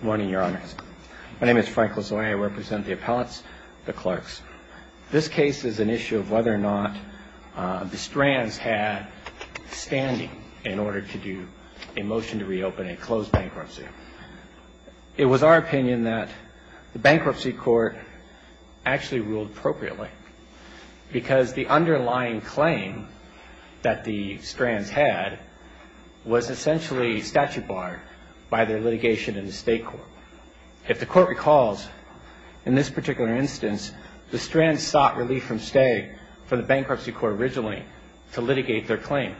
Good morning, Your Honors. My name is Frank Lozano. I represent the appellates, the clerks. This case is an issue of whether or not the Strands had standing in order to do a motion to reopen a closed bankruptcy. It was our opinion that the bankruptcy court actually ruled appropriately because the underlying claim that the Strands had was essentially statute barred by their litigation in the state court. If the court recalls, in this particular instance, the Strands sought relief from Stagg from the bankruptcy court originally to litigate their claim.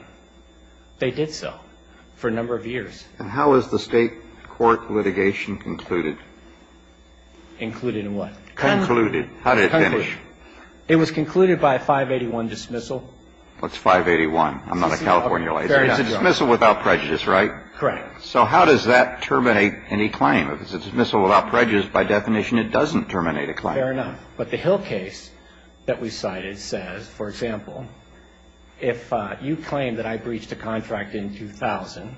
They did so for a number of years. And how is the state court litigation concluded? Included in what? Concluded. How did it finish? It was concluded by a 581 dismissal. What's 581? I'm not a California lawyer. It's a dismissal without prejudice, right? Correct. So how does that terminate any claim? If it's a dismissal without prejudice, by definition it doesn't terminate a claim. Fair enough. But the Hill case that we cited says, for example, if you claim that I breached a contract in 2000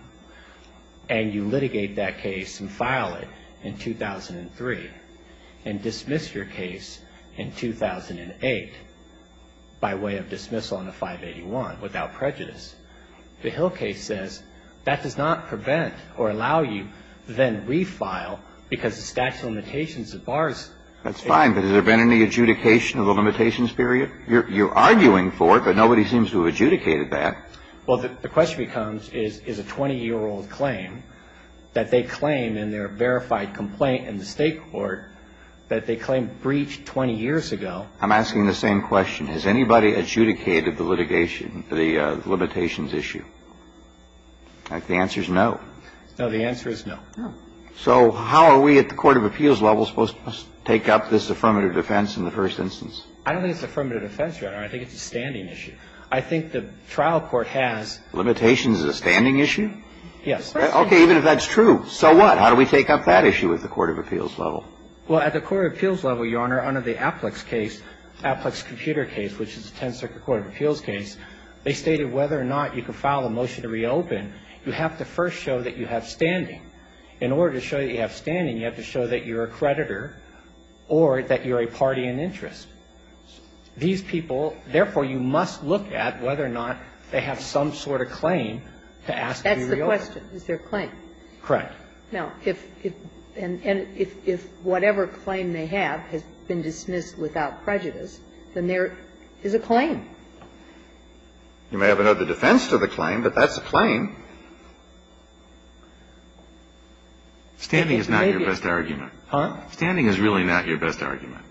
and you litigate that case and file it in 2003 and dismiss your case in 2008 by way of dismissal on the 581 without prejudice, the Hill case says that does not prevent or allow you to then refile because the statute of limitations that bars it. That's fine. But has there been any adjudication of the limitations period? You're arguing for it, but nobody seems to have adjudicated that. Well, the question becomes, is a 20-year-old claim that they claim in their verified complaint in the state court that they claim breached 20 years ago. I'm asking the same question. Has anybody adjudicated the litigation, the limitations issue? The answer is no. No, the answer is no. No. So how are we at the court of appeals level supposed to take up this affirmative defense in the first instance? I don't think it's affirmative defense, Your Honor. I think it's a standing issue. I think the trial court has. Limitation is a standing issue? Yes. Okay. Even if that's true. So what? How do we take up that issue at the court of appeals level? Well, at the court of appeals level, Your Honor, under the APLEX case, APLEX computer case, which is a 10-circuit court of appeals case, they stated whether or not you can file a motion to reopen, you have to first show that you have standing. In order to show that you have standing, you have to show that you're a creditor or that you're a party in interest. These people, therefore, you must look at whether or not they have some sort of claim to ask to be reopened. That's the question. Is there a claim? Correct. Now, if whatever claim they have has been dismissed without prejudice, then there is a claim. You may have another defense to the claim, but that's a claim. Standing is not your best argument. Huh? Standing is really not your best argument.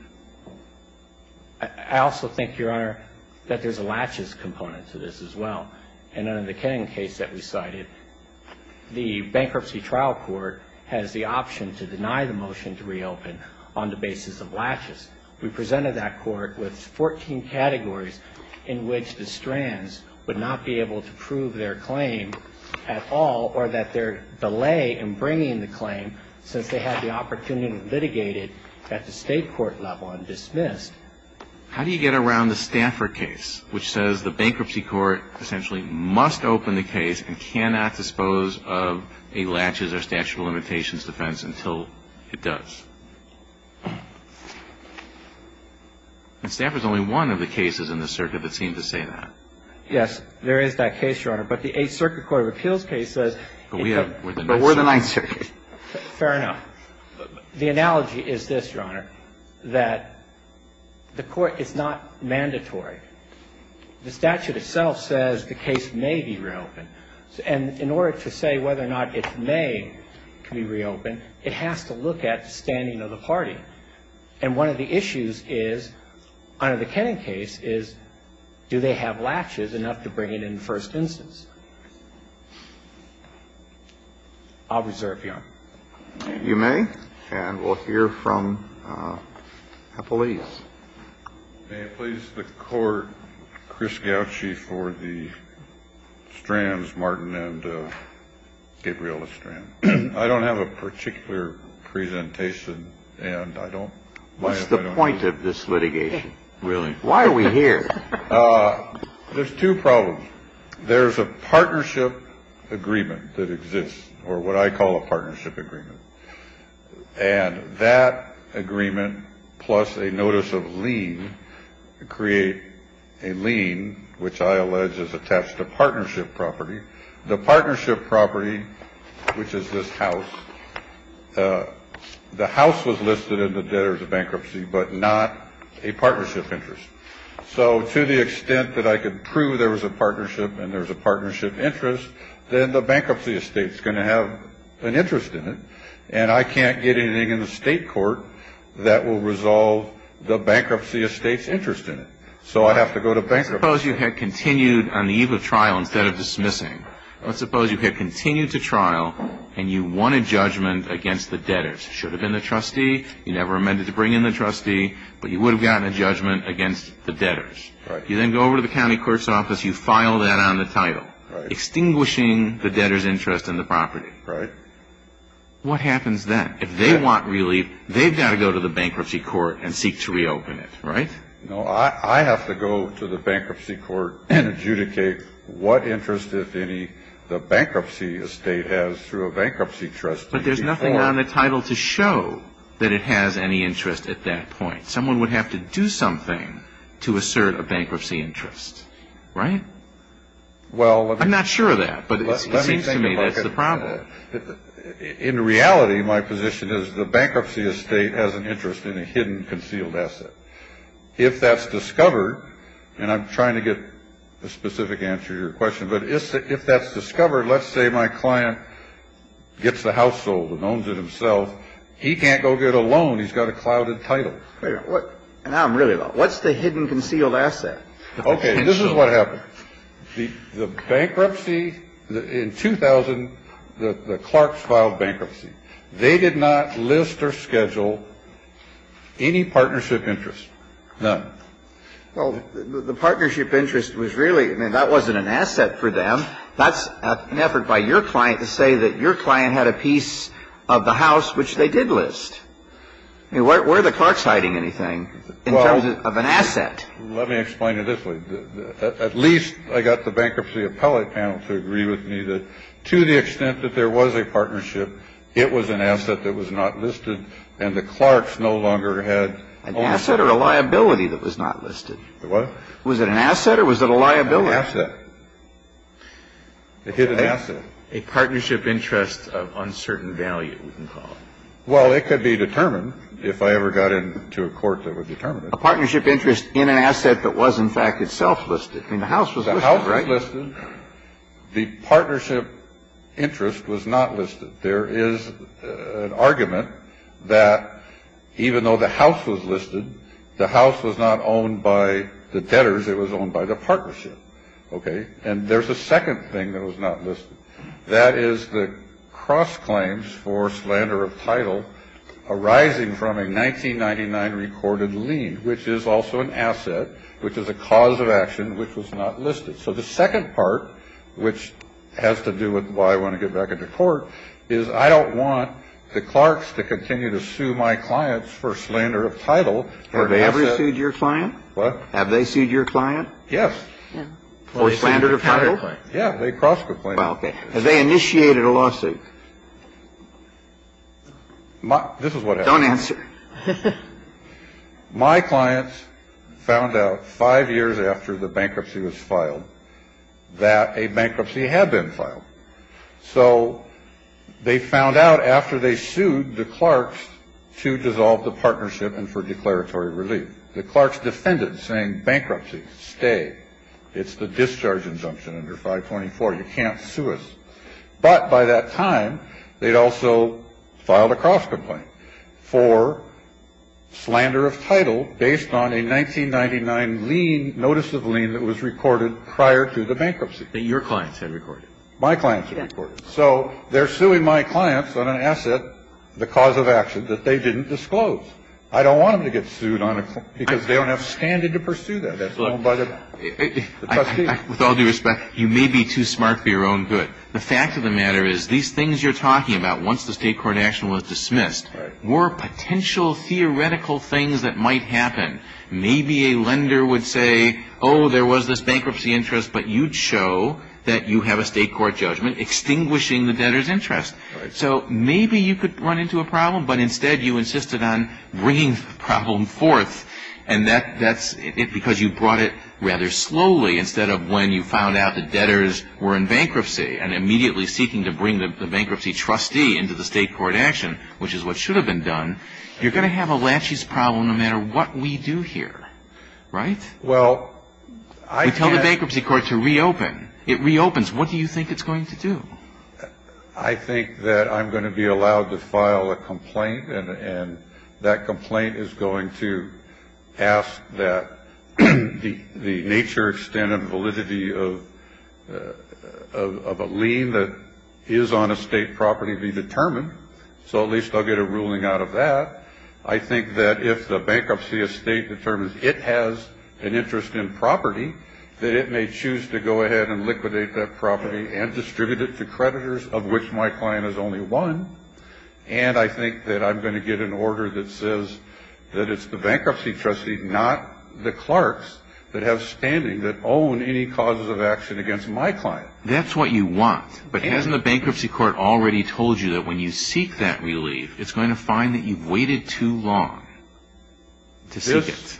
I also think, Your Honor, that there's a laches component to this as well. And under the Kenning case that we cited, the bankruptcy trial court has the option to deny the motion to reopen on the basis of laches. We presented that court with 14 categories in which the strands would not be able to prove their claim at all or that they're delaying in bringing the claim since they had the opportunity to litigate it at the state court level and dismiss. How do you get around the Stanford case, which says the bankruptcy court essentially must open the case and cannot dispose of a laches or statute of limitations defense until it does? And Stanford's only one of the cases in the circuit that seem to say that. But the Eighth Circuit Court of Appeals case says we have the motion. But we're the Ninth Circuit. Fair enough. The analogy is this, Your Honor, that the court is not mandatory. The statute itself says the case may be reopened. And in order to say whether or not it may be reopened, it has to look at the standing of the party. And one of the issues is, under the Kennan case, is do they have laches enough to bring it in first instance? I'll reserve your honor. You may. And we'll hear from the police. May it please the Court, Chris Gauci for the strands, Martin and Gabriel, the strands. I don't have a particular presentation and I don't. What's the point of this litigation, really? Why are we here? There's two problems. There's a partnership agreement that exists or what I call a partnership agreement. And that agreement, plus a notice of lien, create a lien, which I allege is attached to partnership property. The partnership property, which is this house, the house was listed in the debtors of bankruptcy, but not a partnership interest. So to the extent that I could prove there was a partnership and there's a partnership interest, then the bankruptcy estate is going to have an interest in it. And I can't get anything in the state court that will resolve the bankruptcy estate's interest in it. So I have to go to bankruptcy. Let's suppose you had continued on the eve of trial instead of dismissing. Let's suppose you had continued to trial and you won a judgment against the debtors. It should have been the trustee. You never amended to bring in the trustee, but you would have gotten a judgment against the debtors. Right. You then go over to the county court's office. You file that on the title, extinguishing the debtors' interest in the property. Right. What happens then? If they want relief, they've got to go to the bankruptcy court and seek to reopen it, right? No, I have to go to the bankruptcy court and adjudicate what interest, if any, the bankruptcy estate has through a bankruptcy trustee. But there's nothing on the title to show that it has any interest at that point. Someone would have to do something to assert a bankruptcy interest. Right? Well, let me think about it. I'm not sure of that, but it seems to me that's the problem. In reality, my position is the bankruptcy estate has an interest in a hidden, concealed asset. If that's discovered, and I'm trying to get a specific answer to your question, but if that's discovered, let's say my client gets the house sold and owns it himself, he can't go get a loan. He's got a clouded title. Now I'm really lost. What's the hidden, concealed asset? Okay. This is what happened. The bankruptcy in 2000, the Clarks filed bankruptcy. They did not list or schedule any partnership interest. None. Well, the partnership interest was really, I mean, that wasn't an asset for them. That's an effort by your client to say that your client had a piece of the house which they did list. I mean, where are the Clarks hiding anything in terms of an asset? Well, let me explain it this way. At least I got the bankruptcy appellate panel to agree with me that to the extent that there was a partnership, it was an asset that was not listed, and the Clarks no longer had ownership. An asset or a liability that was not listed? What? Was it an asset or was it a liability? An asset. A hidden asset. A partnership interest of uncertain value, we can call it. Well, it could be determined if I ever got into a court that would determine it. A partnership interest in an asset that was, in fact, itself listed. I mean, the house was listed, right? The house was listed. The partnership interest was not listed. There is an argument that even though the house was listed, the house was not owned by the debtors. It was owned by the partnership. Okay? And there's a second thing that was not listed. That is the cross claims for slander of title arising from a 1999 recorded lien, which is also an asset, which is a cause of action which was not listed. So the second part, which has to do with why I want to get back into court, is I don't want the Clarks to continue to sue my clients for slander of title. Have they ever sued your client? What? Have they sued your client? Yes. For slander of title? Yeah. They cross complained. Okay. Have they initiated a lawsuit? This is what happened. Don't answer. My clients found out five years after the bankruptcy was filed that a bankruptcy had been filed. So they found out after they sued the Clarks to dissolve the partnership and for declaratory relief. The Clarks defended saying bankruptcy, stay. It's the discharge injunction under 524. You can't sue us. But by that time, they'd also filed a cross complaint for slander of title based on a 1999 lien, notice of lien that was recorded prior to the bankruptcy. That your clients had recorded. My clients had recorded. So they're suing my clients on an asset, the cause of action that they didn't disclose. I don't want them to get sued because they don't have standard to pursue that. That's owned by the trustee. With all due respect, you may be too smart for your own good. The fact of the matter is these things you're talking about, once the state court action was dismissed, were potential theoretical things that might happen. Maybe a lender would say, oh, there was this bankruptcy interest, but you'd show that you have a state court judgment extinguishing the debtor's interest. So maybe you could run into a problem, but instead you insisted on bringing the problem forth. And that's because you brought it rather slowly instead of when you found out the debtors were in bankruptcy and immediately seeking to bring the bankruptcy trustee into the state court action, which is what should have been done. You're going to have a laches problem no matter what we do here. Right? Well, I can't. We tell the bankruptcy court to reopen. It reopens. What do you think it's going to do? I think that I'm going to be allowed to file a complaint, and that complaint is going to ask that the nature, extent, and validity of a lien that is on a state property be determined. So at least I'll get a ruling out of that. I think that if the bankruptcy estate determines it has an interest in property, that it may choose to go ahead and liquidate that property and distribute it to creditors of which my client is only one. And I think that I'm going to get an order that says that it's the bankruptcy trustee, not the clerks that have standing that own any causes of action against my client. That's what you want. But hasn't the bankruptcy court already told you that when you seek that relief, it's going to find that you've waited too long to seek it?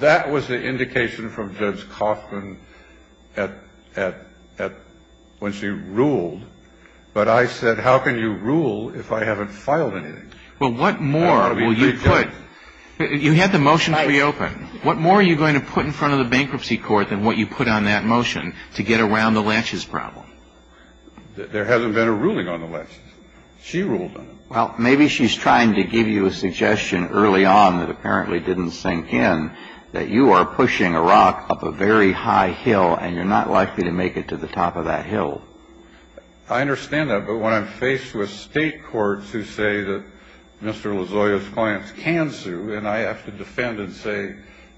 That was the indication from Judge Kaufman at when she ruled. But I said, how can you rule if I haven't filed anything? Well, what more will you put? You had the motion to reopen. What more are you going to put in front of the bankruptcy court than what you put on that motion to get around the latches problem? There hasn't been a ruling on the latches. She ruled on it. Well, maybe she's trying to give you a suggestion early on that apparently didn't sink in, that you are pushing a rock up a very high hill, and you're not likely to make it to the top of that hill. I understand that. But when I'm faced with State courts who say that Mr. Lozoya's clients can sue, and I have to defend and say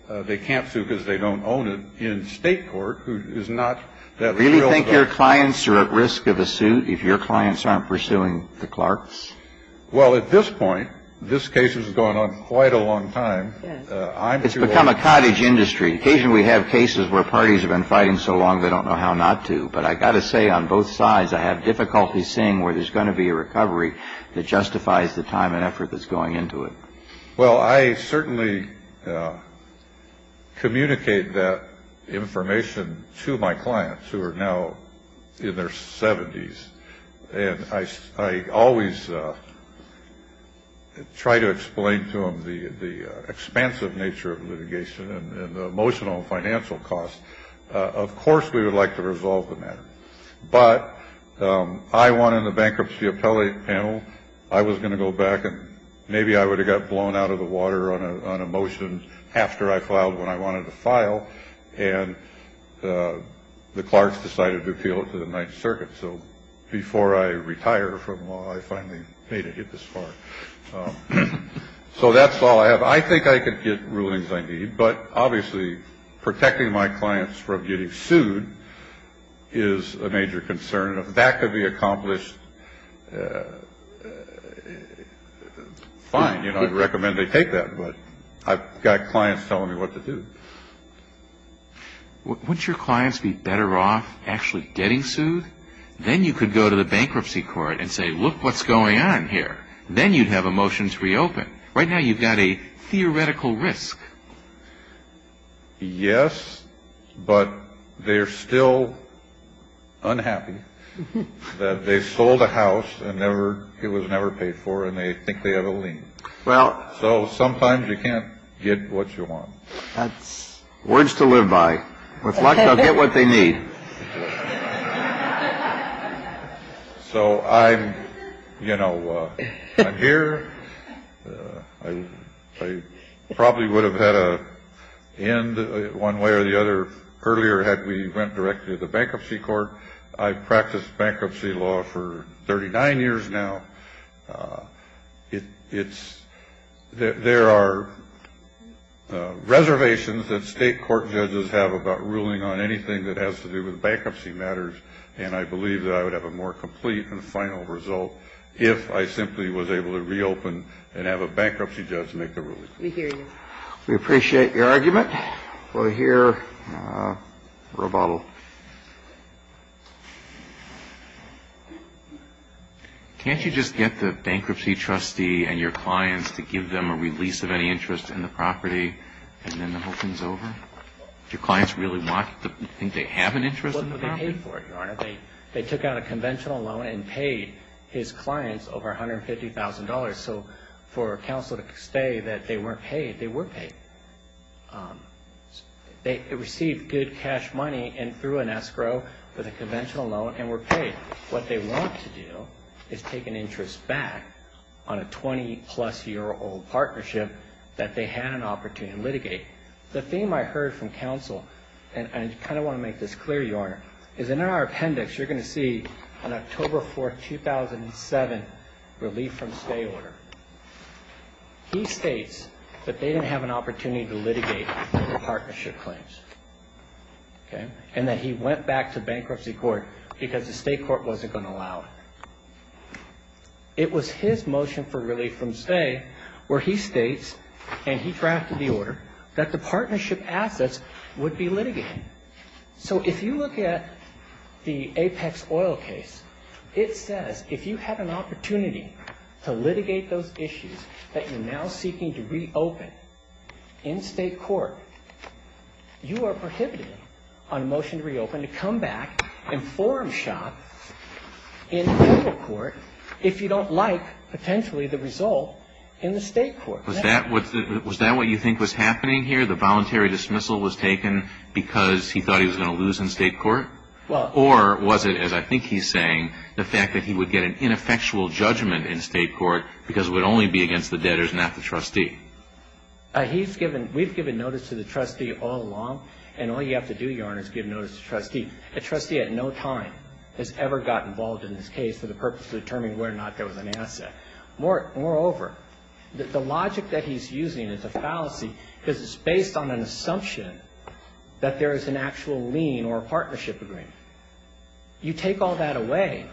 they can't sue because they don't own it in State court, who is not that real. Do you think your clients are at risk of a suit if your clients aren't pursuing the Clarks? Well, at this point, this case has gone on quite a long time. It's become a cottage industry. Occasionally we have cases where parties have been fighting so long they don't know how not to. But I've got to say, on both sides, I have difficulty seeing where there's going to be a recovery that justifies the time and effort that's going into it. Well, I certainly communicate that information to my clients who are now in their 70s. And I always try to explain to them the expansive nature of litigation and the emotional and financial costs. Of course we would like to resolve the matter. But I won in the bankruptcy appellate panel. I was going to go back and maybe I would have got blown out of the water on a motion after I filed when I wanted to file. And the Clarks decided to appeal it to the Ninth Circuit. So before I retire from law, I finally made it this far. So that's all I have. I think I could get rulings I need. But obviously protecting my clients from getting sued is a major concern. If that could be accomplished, fine. I'd recommend they take that. But I've got clients telling me what to do. Wouldn't your clients be better off actually getting sued? Then you could go to the bankruptcy court and say, look what's going on here. Then you'd have a motion to reopen. Right now you've got a theoretical risk. Yes, but they're still unhappy that they sold a house and never it was never paid for and they think they have a lien. Well, so sometimes you can't get what you want. That's words to live by. With luck, they'll get what they need. So I'm, you know, I'm here. I probably would have had a hand one way or the other earlier had we went directly to the bankruptcy court. I practiced bankruptcy law for thirty nine years now. It's that there are reservations that state court judges have about ruling on anything that has to do with bankruptcy matters. And I believe that I would have a more complete and final result if I simply was able to reopen and have a bankruptcy judge make the ruling. We appreciate your argument. All right. Well, here. Roboto. Can't you just get the bankruptcy trustee and your clients to give them a release of any interest in the property and then the whole thing's over? Do your clients really want to think they have an interest in the property? Well, they paid for it, Your Honor. They took out a conventional loan and paid his clients over $150,000. So for counsel to say that they weren't paid, they were paid. They received good cash money and threw an escrow for the conventional loan and were paid. What they want to do is take an interest back on a 20 plus year old partnership that they had an opportunity to litigate. The theme I heard from counsel, and I kind of want to make this clear, Your Honor, is in our appendix you're going to see on October 4th, 2007, relief from stay order. He states that they didn't have an opportunity to litigate the partnership claims. And that he went back to bankruptcy court because the state court wasn't going to allow it. It was his motion for relief from stay where he states, and he drafted the order, that the partnership assets would be litigated. So if you look at the Apex oil case, it says if you had an opportunity to litigate those issues that you're now seeking to reopen in state court, you are prohibited on a motion to reopen to come back and forum shop in federal court if you don't like potentially the result in the state court. Was that what you think was happening here, the voluntary dismissal was taken because he thought he was going to lose in state court? Or was it, as I think he's saying, the fact that he would get an ineffectual judgment in state court because it would only be against the debtors, not the trustee? He's given, we've given notice to the trustee all along, and all you have to do, Your Honor, is give notice to the trustee. A trustee at no time has ever gotten involved in this case for the purpose of determining whether or not there was an asset. Moreover, the logic that he's using is a fallacy because it's based on an assumption that there is an actual lien or a partnership agreement. You take all that away,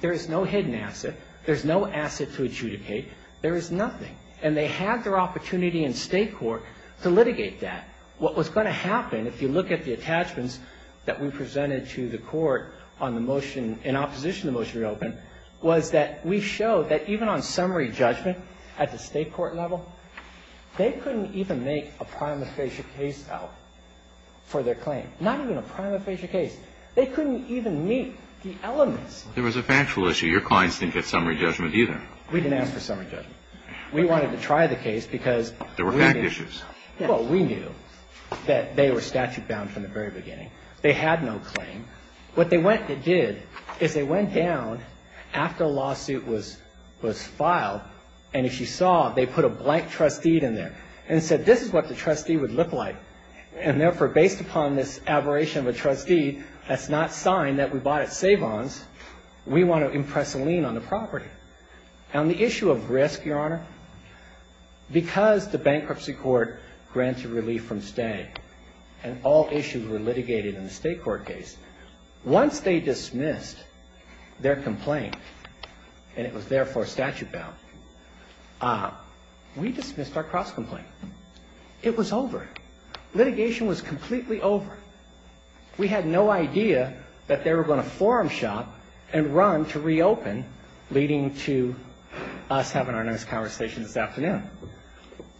there is no hidden asset, there's no asset to adjudicate, there is nothing. And they had their opportunity in state court to litigate that. What was going to happen, if you look at the attachments that we presented to the court on the motion in opposition to the motion to reopen, was that we showed that even on summary judgment at the state court level, they couldn't even make a prima facie case out for their claim. Not even a prima facie case. They couldn't even meet the elements. There was a factual issue. Your clients didn't get summary judgment either. We didn't ask for summary judgment. We wanted to try the case because we knew. There were fact issues. Well, we knew that they were statute bound from the very beginning. They had no claim. What they did is they went down after a lawsuit was filed, and if you saw, they put a blank trustee in there and said, this is what the trustee would look like. And therefore, based upon this aberration of a trustee, that's not a sign that we bought at Savons. We want to impress a lien on the property. On the issue of risk, Your Honor, because the bankruptcy court granted relief from stay, and all issues were litigated in the state court case, once they dismissed their complaint, and it was therefore statute bound, we dismissed our cross-complaint. It was over. Litigation was completely over. We had no idea that they were going to forum shop and run to reopen, leading to us having our next conversation this afternoon.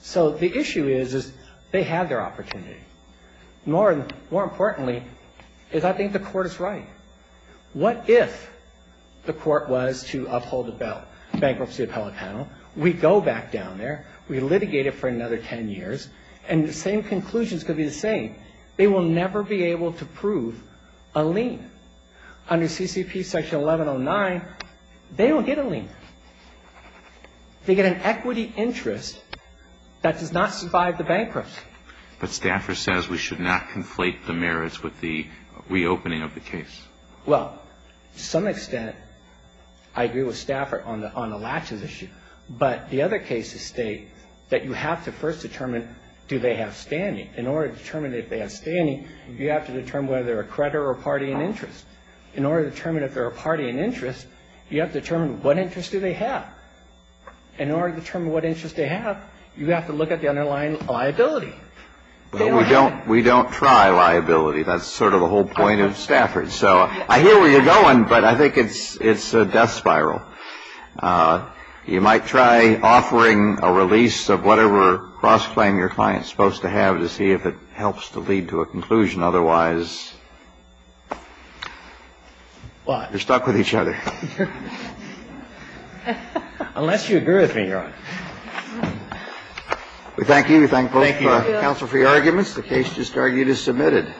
So the issue is they had their opportunity. More importantly is I think the court is right. What if the court was to uphold the bankruptcy appellate panel? We go back down there. We litigate it for another ten years, and the same conclusions could be the same. They will never be able to prove a lien. Under CCP section 1109, they don't get a lien. They get an equity interest that does not survive the bankruptcy. But Stafford says we should not conflate the merits with the reopening of the case. Well, to some extent, I agree with Stafford on the latches issue, but the other cases state that you have to first determine do they have standing in order to determine if they have standing, you have to determine whether they're a creditor or party in interest. In order to determine if they're a party in interest, you have to determine what interest do they have. In order to determine what interest they have, you have to look at the underlying liability. Well, we don't try liability. That's sort of the whole point of Stafford. So I hear where you're going, but I think it's a death spiral. You might try offering a release of whatever cross-claim your client is supposed to have to see if it helps to lead to a conclusion. Otherwise, you're stuck with each other. Unless you agree with me, Your Honor. We thank you. We thank both counsel for your arguments. The case just argued is submitted.